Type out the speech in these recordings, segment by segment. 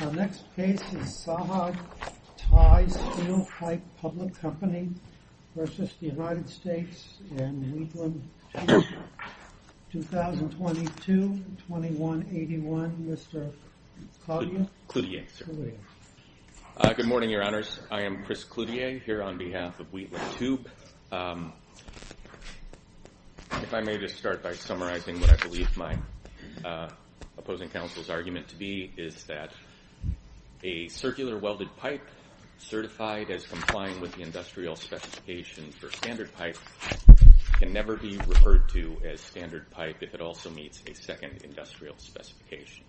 Our next case is Saha Thai Steel Pipe Public Company versus the United States in Wheatland, Tuba, 2022-2181. Mr. Cloutier. Cloutier, sir. Good morning, Your Honors. I am Chris Cloutier, here on behalf of Wheatland Tuba. If I may just start by summarizing what I believe my opposing counsel's argument to be is that a circular welded pipe certified as complying with the industrial specification for standard pipe can never be referred to as standard pipe if it also meets a second industrial specification.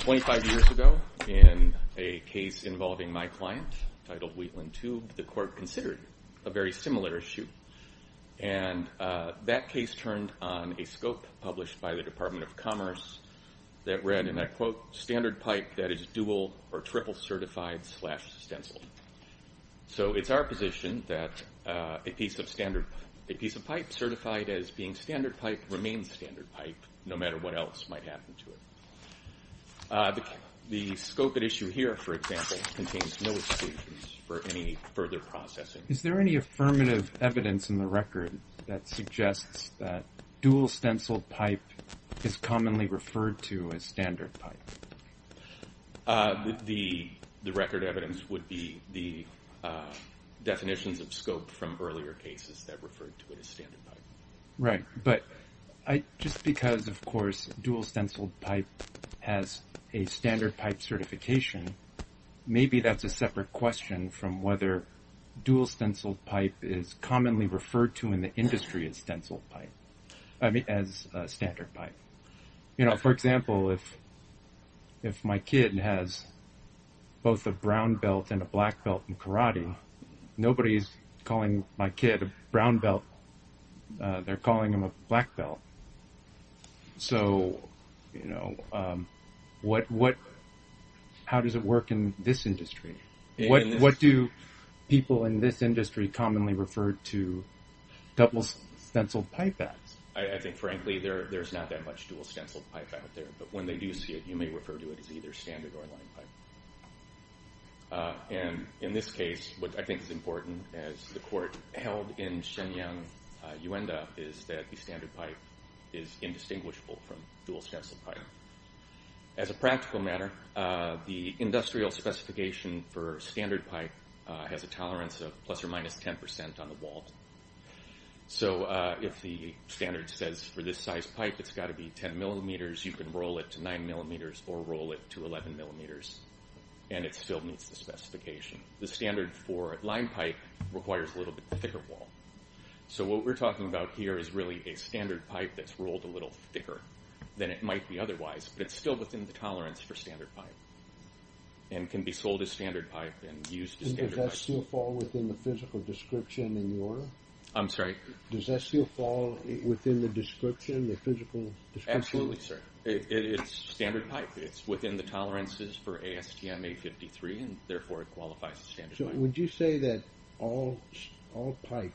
Twenty-five years ago, in a case involving my client, titled Wheatland Tube, the court considered a very similar issue. And that case turned on a scope published by the Department of Commerce that read, and I quote, standard pipe that is dual or triple certified slash stencil. So it's our position that a piece of pipe certified as being standard pipe remains standard pipe no matter what else might happen to it. The scope at issue here, for example, contains no exclusions for any further processing. Is there any affirmative evidence in the record that suggests that dual stenciled pipe is commonly referred to as standard pipe? The record evidence would be the definitions of scope from earlier cases that referred to it as standard pipe. Right. But just because, of course, dual stenciled pipe has a standard pipe certification, maybe that's a separate question from whether dual stenciled pipe is commonly referred to in the industry as stenciled pipe, I mean, as standard pipe. You know, for example, if my kid has both a brown belt and a black belt in karate, nobody's calling my kid a brown belt. They're calling him a black belt. So, you know, how does it work in this industry? What do people in this industry commonly refer to double stenciled pipe as? I think, frankly, there's not that much dual stenciled pipe out there, but when they do see it, you may refer to it as either standard or line pipe. And in this case, what I think is important, as the court held in Shenyang, Yuanda, is that the standard pipe is indistinguishable from dual stenciled pipe. The specification for standard pipe has a tolerance of plus or minus 10% on the wall. So if the standard says for this size pipe it's got to be 10 millimeters, you can roll it to 9 millimeters or roll it to 11 millimeters, and it still meets the specification. The standard for line pipe requires a little bit thicker wall. So what we're talking about here is really a standard pipe that's rolled a little thicker than it might be otherwise, but it's still within the tolerance for standard pipe, and can be sold as standard pipe and used as standard pipe. Does that still fall within the physical description in the order? I'm sorry? Does that still fall within the description, the physical description? Absolutely, sir. It's standard pipe. It's within the tolerances for ASTM 853, and therefore it qualifies as standard pipe. So would you say that all pipe,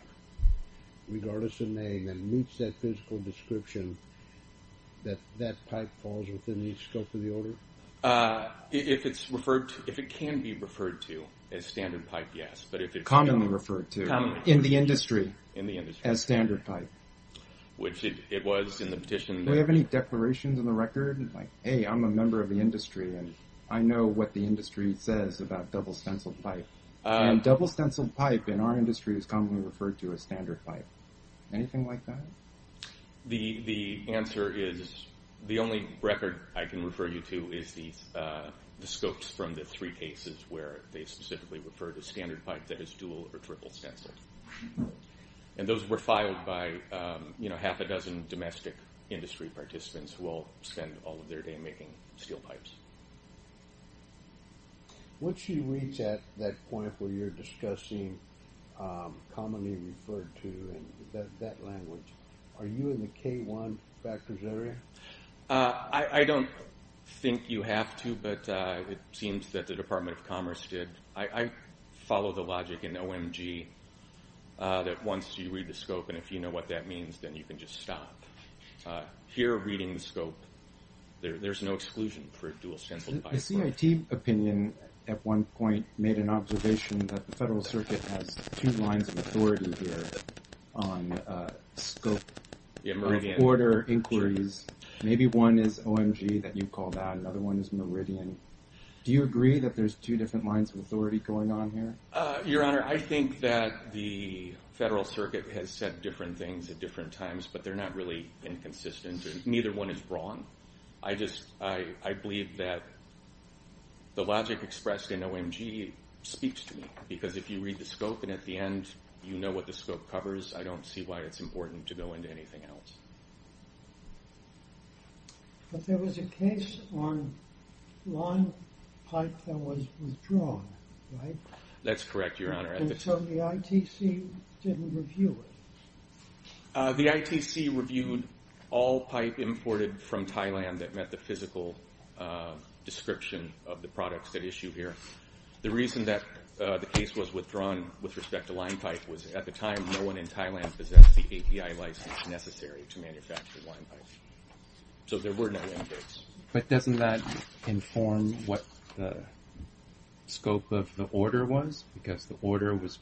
regardless of name, and meets that physical description, that that pipe falls within each scope of the order? If it's referred to, if it can be referred to as standard pipe, yes, but if it's commonly referred to in the industry as standard pipe, which it was in the petition. Do they have any declarations in the record like, hey, I'm a member of the industry, and I know what the industry says about double stenciled pipe, and double stenciled pipe in our industry is commonly referred to as standard pipe. Anything like that? The answer is, the only record I can refer you to is the scopes from the three cases where they specifically refer to standard pipe that is dual or triple stenciled. And those were filed by, you know, half a dozen domestic industry participants who all spend all of their day making steel pipes. Once you reach at that point where you're discussing commonly referred to and that language, are you in the K-1 factors area? I don't think you have to, but it seems that the Department of Commerce did. I follow the logic in OMG that once you read the scope, and if you know what that means, then you can just stop. Here reading the scope, there's no exclusion for dual stenciled pipe. The CIT opinion at one point made an observation that the Federal Circuit has two lines of authority here on scope of order inquiries. Maybe one is OMG that you call that, another one is Meridian. Do you agree that there's two different lines of authority going on here? Your Honor, I think that the Federal Circuit has said different things at different times, but they're not really inconsistent, and neither one is wrong. I just, I believe that the logic expressed in OMG speaks to me, because if you read the scope and at the end you know what the scope covers, I don't see why it's important to go into anything else. But there was a case on lawn pipe that was withdrawn, right? That's correct, Your Honor. So the ITC didn't review it? The ITC reviewed all pipe imported from Thailand that met the physical description of the products that issue here. The reason that the case was withdrawn with respect to line pipe was at the time no one in Thailand possessed the API license necessary to manufacture line pipe. So there were no injuries. But doesn't that inform what the scope of the order was? Because the order was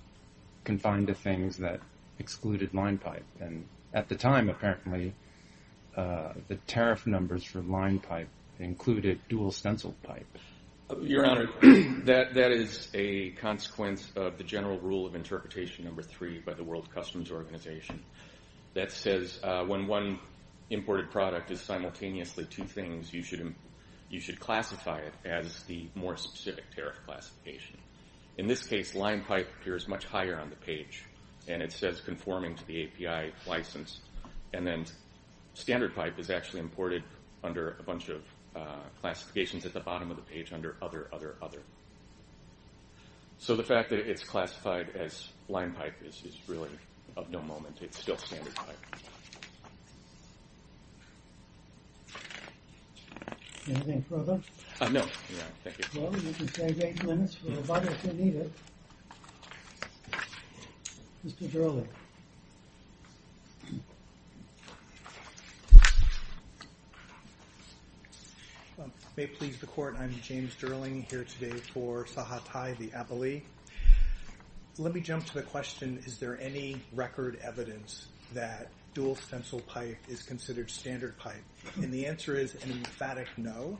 confined to things that excluded line pipe, and at the time apparently the tariff numbers for line pipe included dual stencil pipe. Your Honor, that is a consequence of the general rule of interpretation number three by the World Customs Organization that says when one imported product is simultaneously two things, you should classify it as the more specific tariff classification. In this case, line pipe appears much higher on the page, and it says conforming to the API license, and then standard pipe is actually imported under a bunch of classifications at the bottom of the page under other, other, other. So the fact that it's classified as line pipe is really of no moment. It's still standard pipe. Do you have anything further? No, Your Honor. Thank you. Well, you can save eight minutes for the body if you need it. Mr. Dirling. May it please the Court, I'm James Dirling here today for Sahatai the Abali. Let me jump to the question, is there any record evidence that dual stencil pipe is considered standard pipe? And the answer is an emphatic no,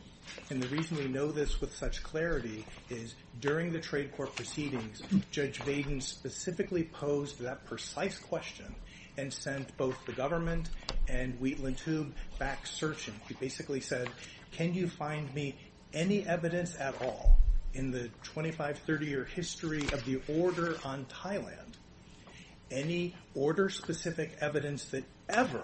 and the reason we know this with such clarity is during the trade court proceedings, Judge Baden specifically posed that precise question and sent both the government and Wheatland Tube back searching. He basically said, can you find me any evidence at all in the 25, 30 year history of the order on Thailand, any order specific evidence that ever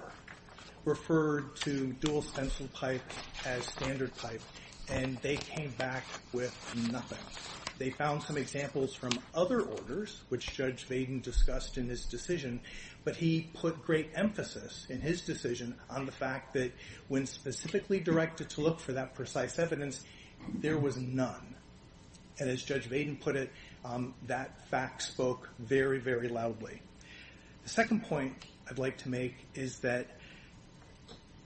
referred to dual stencil pipe as standard pipe, and they came back with nothing. They found some examples from other orders, which Judge Baden discussed in his decision on the fact that when specifically directed to look for that precise evidence, there was none. And as Judge Baden put it, that fact spoke very, very loudly. The second point I'd like to make is that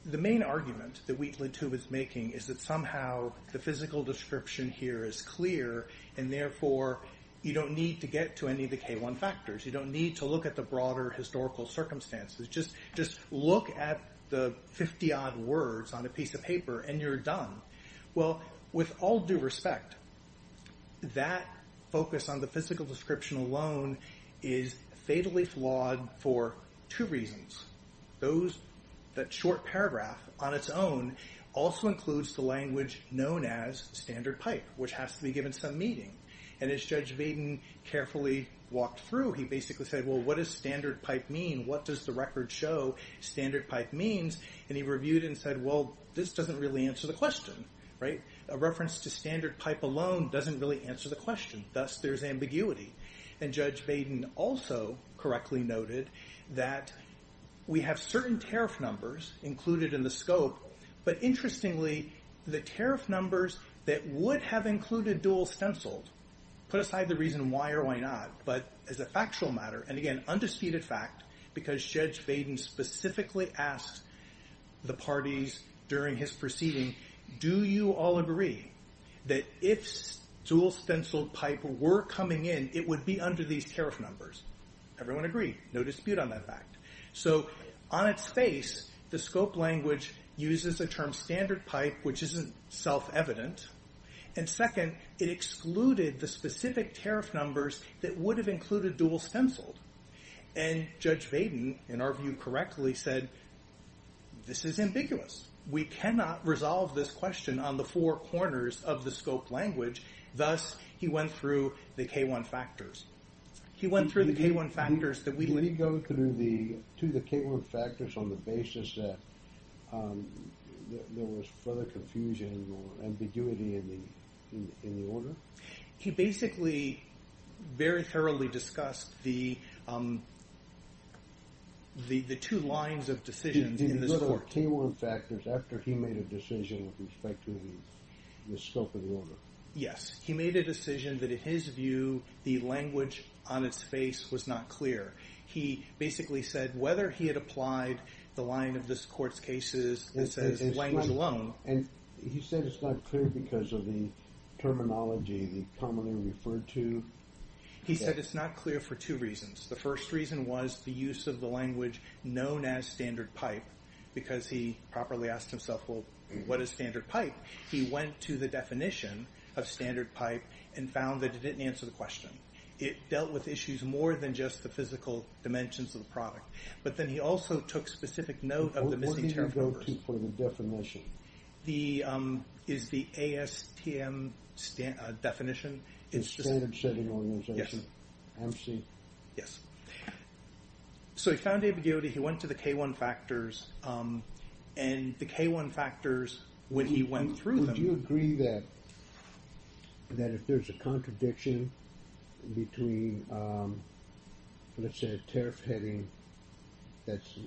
the main argument that Wheatland Tube is making is that somehow the physical description here is clear, and therefore you don't need to get to any of the factors. You don't need to look at the broader historical circumstances. Just look at the 50-odd words on a piece of paper, and you're done. Well, with all due respect, that focus on the physical description alone is fatally flawed for two reasons. The short paragraph on its own also includes the language known as standard pipe, which has to be given some meaning. And as Judge Baden carefully walked through, he basically said, well, what does standard pipe mean? What does the record show standard pipe means? And he reviewed it and said, well, this doesn't really answer the question, right? A reference to standard pipe alone doesn't really answer the question. Thus, there's ambiguity. And Judge Baden also correctly noted that we have certain tariff numbers included in the scope, but interestingly, the tariff numbers that would have included dual stenciled, put aside the reason why or why not, but as a factual matter, and again, undisputed fact, because Judge Baden specifically asked the parties during his proceeding, do you all agree that if dual stenciled pipe were coming in, it would be under these tariff numbers? Everyone agreed. No dispute on that fact. So on its face, the scope language uses a term standard pipe, which isn't self-evident. And second, it excluded the specific tariff numbers that would have included dual stenciled. And Judge Baden, in our view, correctly said, this is ambiguous. We cannot resolve this question on the four corners of the scope language. Thus, he went through the K-1 factors. He went through the K-1 factors that we... Did he go through the two of the K-1 factors on the basis that there was further confusion or ambiguity in the order? He basically very thoroughly discussed the two lines of decisions in this court. He went through K-1 factors after he made a decision with respect to the scope of the order. Yes, he made a decision that in his view, the language on its face was not clear. He basically said whether he had applied the line of this court's cases that says language alone... And he said it's not clear because of the terminology, the commonly referred to... He said it's not clear for two reasons. The first reason was the use of the language known as standard pipe, because he properly asked himself, well, what is standard pipe? He went to the definition of standard pipe and found that it didn't answer the question. It dealt with issues more than just the physical dimensions of the product, but then he also took specific note of the... What did he go to for the definition? Is the ASTM definition... The Standard Setting Organization, MC? Yes. So he found ambiguity. He went to the K-1 factors, and the K-1 factors, when he went through them... Would you agree that if there's a contradiction between, let's say, a tariff heading that's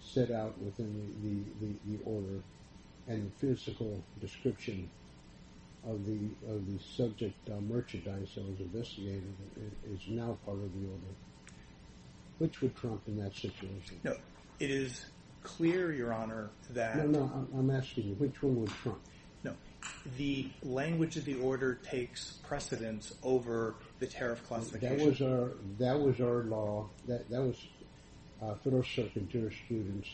set out within the order and the physical description of the subject merchandise that was investigated is now part of the order, which would trump in that situation? No, it is clear, Your Honor, that... I'm asking you, which one would trump? No. The language of the order takes precedence over the tariff classification. That was our law. That was for those circuit jurors students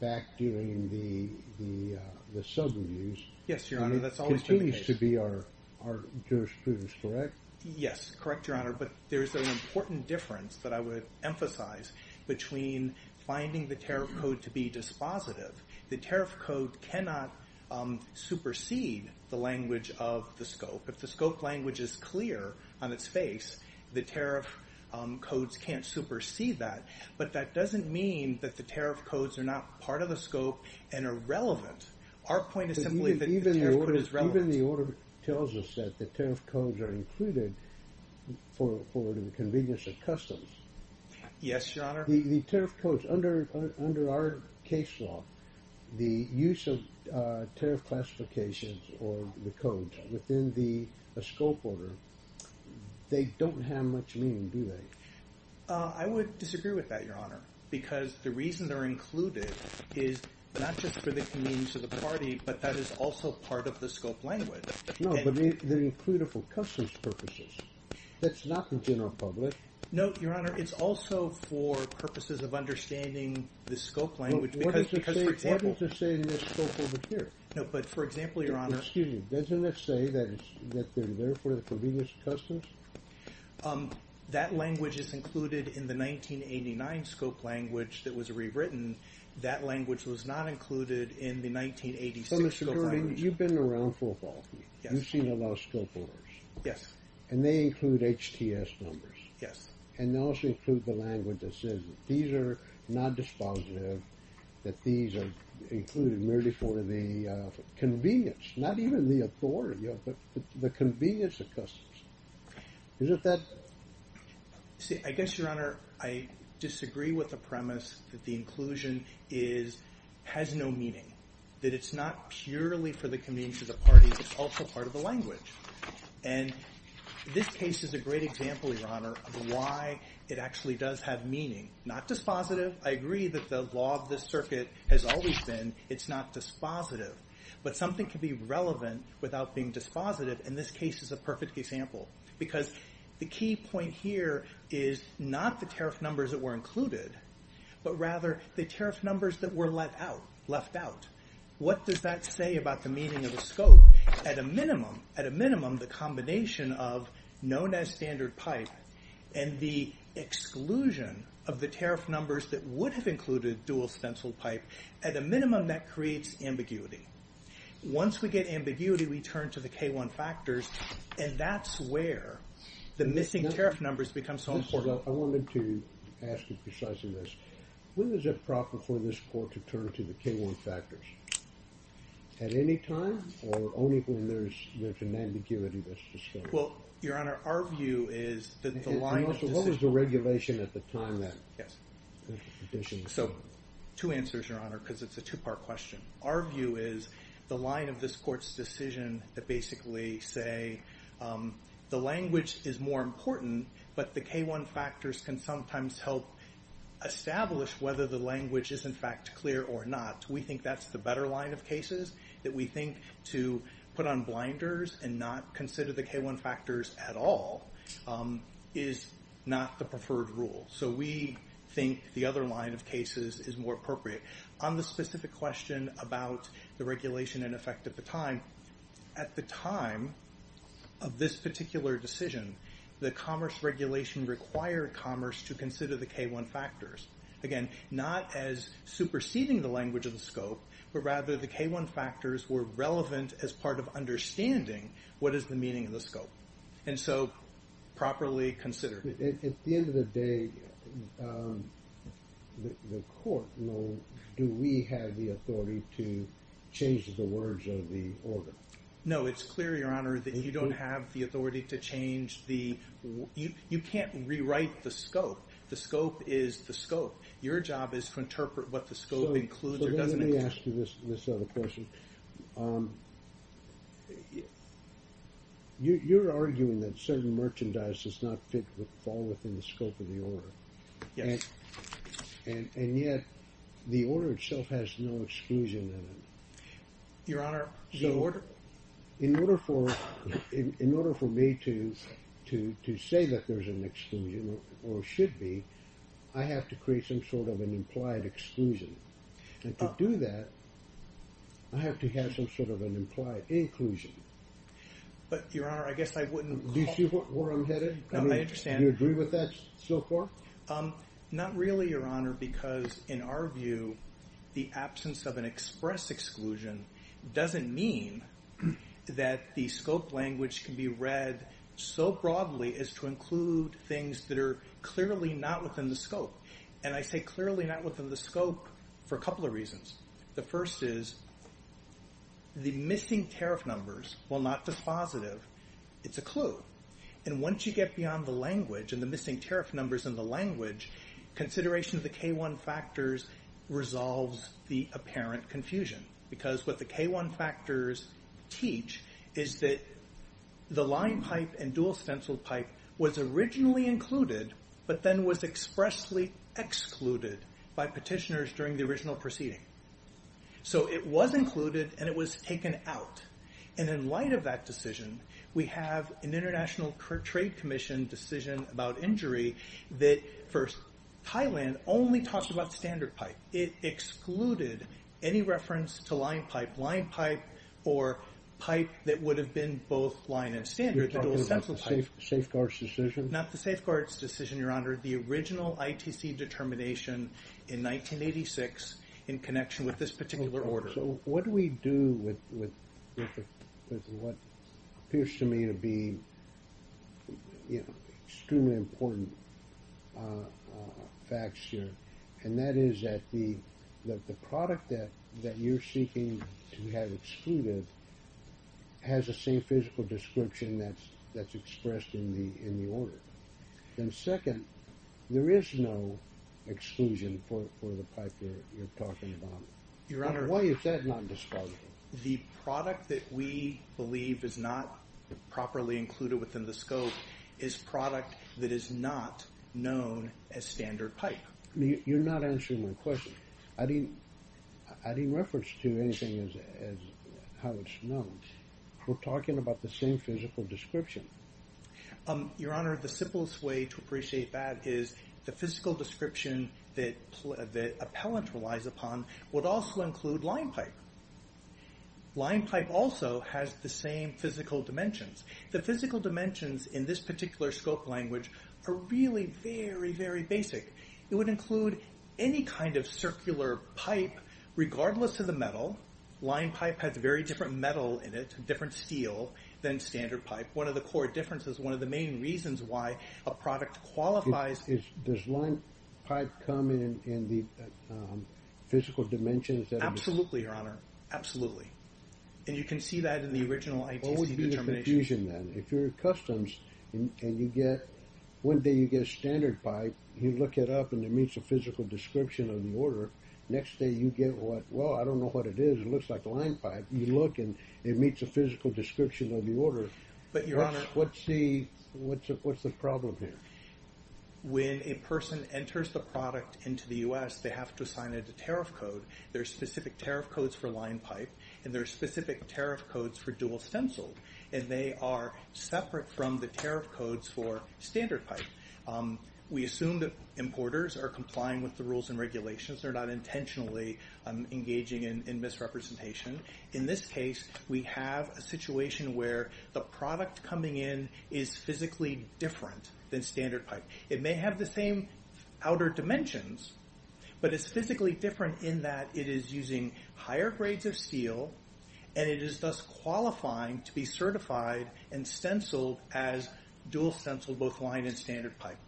back during the sub reviews. Yes, Your Honor, that's always been the case. And it continues to be our jurisprudence, correct? Yes, correct, Your Honor. But there's an important difference that I would emphasize between finding the tariff code to be dispositive. The tariff code cannot supersede the language of the scope. If the scope language is clear on its face, the tariff codes can't supersede that. But that doesn't mean that the tariff codes are not part of the scope and are relevant. Our point is simply that the tariff code is relevant. Even the order tells us that the tariff codes are included for the convenience of customs. Yes, Your Honor. The tariff codes, under our case law, the use of tariff classifications or the codes within the scope order, they don't have much meaning, do they? I would disagree with that, Your Honor, because the reason they're included is not just for the convenience of the party, but that is also part of the scope language. No, but they're included for customs purposes. That's not the general public. No, Your Honor. It's also for purposes of understanding the scope language because, for example... What does it say in this scope over here? No, but for example, Your Honor... Excuse me. Doesn't it say that they're there for the convenience of customs? That language is included in the 1989 scope language that was rewritten. That language was not included in the 1986 scope language. You've been around full authority. You've seen a lot of scope orders. Yes. And they include HTS numbers. Yes. And they also include the language that says these are not dispositive, that these are included merely for the convenience, not even the authority, but the convenience of customs. Isn't that... I guess, Your Honor, I disagree with the premise that the inclusion has no meaning, that it's not purely for the convenience of the party. It's also part of the language. And this case is a great example, Your Honor, of why it actually does have meaning. Not dispositive. I agree that the law of this circuit has always been, it's not dispositive. But something can be relevant without being dispositive, and this case is a perfect example. Because the key point here is not the tariff numbers that were included, but rather the tariff numbers that were left out. What does that say about the meaning of the scope? At a minimum, the combination of known as standard pipe and the exclusion of the tariff numbers that would have included dual stencil pipe, at a minimum, that creates ambiguity. Once we get ambiguity, we turn to the K1 factors, and that's where the missing tariff numbers become important. I wanted to ask you precisely this. When is it proper for this court to turn to the K1 factors? At any time, or only when there's an ambiguity that's discovered? Well, Your Honor, our view is that the line of decision... And also, what was the regulation at the time that... So, two answers, Your Honor, because it's a two-part question. Our view is the line of this K1 factors can sometimes help establish whether the language is, in fact, clear or not. We think that's the better line of cases, that we think to put on blinders and not consider the K1 factors at all is not the preferred rule. So we think the other line of cases is more appropriate. On the specific question about the regulation in effect at the time, at the time of this particular decision, the commerce regulation required commerce to consider the K1 factors. Again, not as superseding the language of the scope, but rather the K1 factors were relevant as part of understanding what is the meaning of the scope. And so, properly considered. At the end of the day, the court will... Do we have the authority to change the words of the order? No, it's clear, Your Honor, that you don't have the authority to change the... You can't rewrite the scope. The scope is the scope. Your job is to interpret what the scope includes or doesn't... Let me ask you this other question. You're arguing that certain merchandise does not fit or fall within the scope of the order. Yes. And yet, the order itself has no exclusion in it. Your Honor, the order... In order for me to say that there's an exclusion or should be, I have to create some sort of an implied exclusion. And to do that, I have to have some sort of an implied inclusion. But, Your Honor, I guess I wouldn't... Do you see where I'm headed? No, I understand. Do you agree with that so far? Not really, Your Honor, because in our view, the absence of an express exclusion doesn't mean that the scope language can be read so broadly as to include things that are clearly not within the scope. And I say clearly not within the scope for a couple of reasons. The first is the missing tariff numbers, while not dispositive, it's a clue. And once you get beyond the language and the missing tariff numbers in the language, consideration of the K1 factors resolves the is that the line pipe and dual stencil pipe was originally included, but then was expressly excluded by petitioners during the original proceeding. So it was included and it was taken out. And in light of that decision, we have an International Trade Commission decision about injury that for Thailand only talked about standard pipe. It excluded any reference to line pipe or pipe that would have been both line and standard. You're talking about the safeguards decision? Not the safeguards decision, Your Honor. The original ITC determination in 1986 in connection with this particular order. So what do we do with what appears to me to be extremely important facts here? And that is that the product that you're seeking to have excluded has the same physical description that's expressed in the order. And second, there is no exclusion for the pipe that you're talking about. Your Honor. Why is that not dispositive? The product that we believe is not properly included within the scope is product that is not known as standard pipe. You're not answering my question. I didn't reference to anything as how it's known. We're talking about the same physical description. Your Honor, the simplest way to appreciate that is the physical description that appellant relies upon would also include line pipe. Line pipe also has the same physical dimensions. The physical dimensions in this particular scope language are really very, very basic. It would include any kind of circular pipe regardless of the metal. Line pipe has very different metal in it, different steel than standard pipe. One of the core differences, one of the main reasons why a product qualifies. Does line pipe come in the physical dimensions? Absolutely, Your Honor. Absolutely. And you can see that in the original ITC determination. What would be the confusion then? If you're at customs and you get, one day you get a standard pipe, you look it up and it meets a physical description of the order. Next day you get what, well, I don't know what it is, it looks like a line pipe. You look and it meets a physical description of the order. But Your Honor. What's the problem here? When a person enters the product into the U.S., they have to sign a tariff code. There are specific tariff codes for line pipe and there are specific tariff codes for dual stenciled and they are separate from the tariff codes for rules and regulations. They're not intentionally engaging in misrepresentation. In this case, we have a situation where the product coming in is physically different than standard pipe. It may have the same outer dimensions, but it's physically different in that it is using higher grades of steel and it is thus qualifying to be certified and stenciled as dual stenciled, line and standard pipe.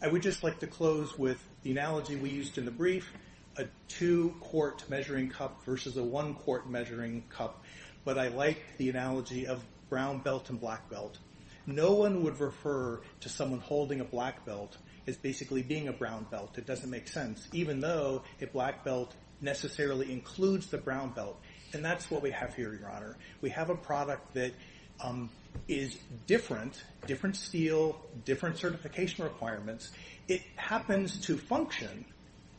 I would just like to close with the analogy we used in the brief, a two-quart measuring cup versus a one-quart measuring cup. But I like the analogy of brown belt and black belt. No one would refer to someone holding a black belt as basically being a brown belt. It doesn't make sense, even though a black belt necessarily includes the brown belt. And that's what we have here, Your Honor. We have a product that is different, different steel, different certification requirements. It happens to function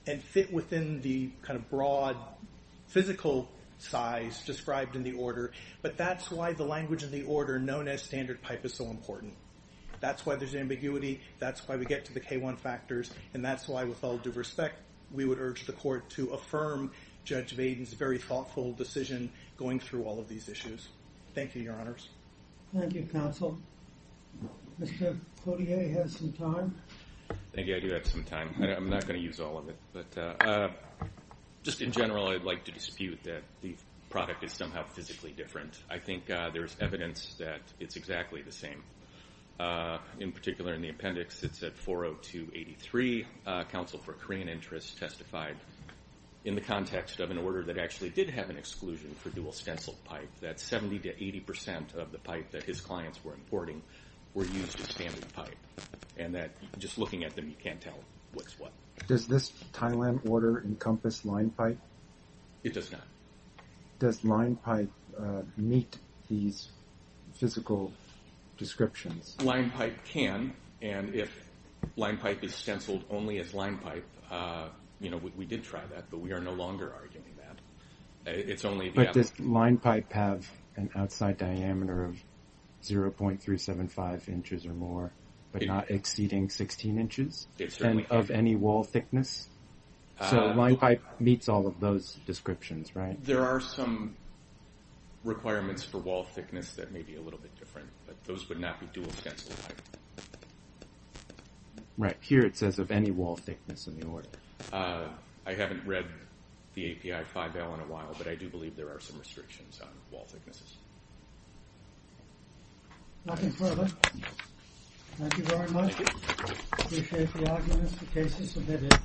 and fit within the kind of broad physical size described in the order. But that's why the language of the order known as standard pipe is so important. That's why there's ambiguity. That's why we get to the K1 factors. And that's with all due respect, we would urge the court to affirm Judge Baden's very thoughtful decision going through all of these issues. Thank you, Your Honors. Thank you, counsel. Mr. Cotillier, you have some time? Thank you. I do have some time. I'm not going to use all of it. But just in general, I'd like to dispute that the product is somehow physically different. I think there's evidence that it's exactly the same. In particular, in the appendix, it said 40283 counsel for Korean interests testified in the context of an order that actually did have an exclusion for dual stencil pipe, that 70 to 80% of the pipe that his clients were importing were used as standard pipe. And that just looking at them, you can't tell what's what. Does this Thailand order encompass line pipe? It does not. Does line pipe meet these physical descriptions? Line pipe can. And if line pipe is stenciled only as line pipe, you know, we did try that, but we are no longer arguing that it's only this line pipe have an outside diameter of 0.375 inches or more, but not exceeding 16 inches of any wall thickness. So line pipe meets all of those descriptions, right? There are some requirements for wall thickness that may be a little bit different, but those would not be dual stencil pipe. Right. Here it says of any wall thickness in the order. I haven't read the API 5L in a while, but I do believe there are some restrictions on wall thicknesses. Nothing further. Thank you very much. Appreciate the arguments, the cases submitted.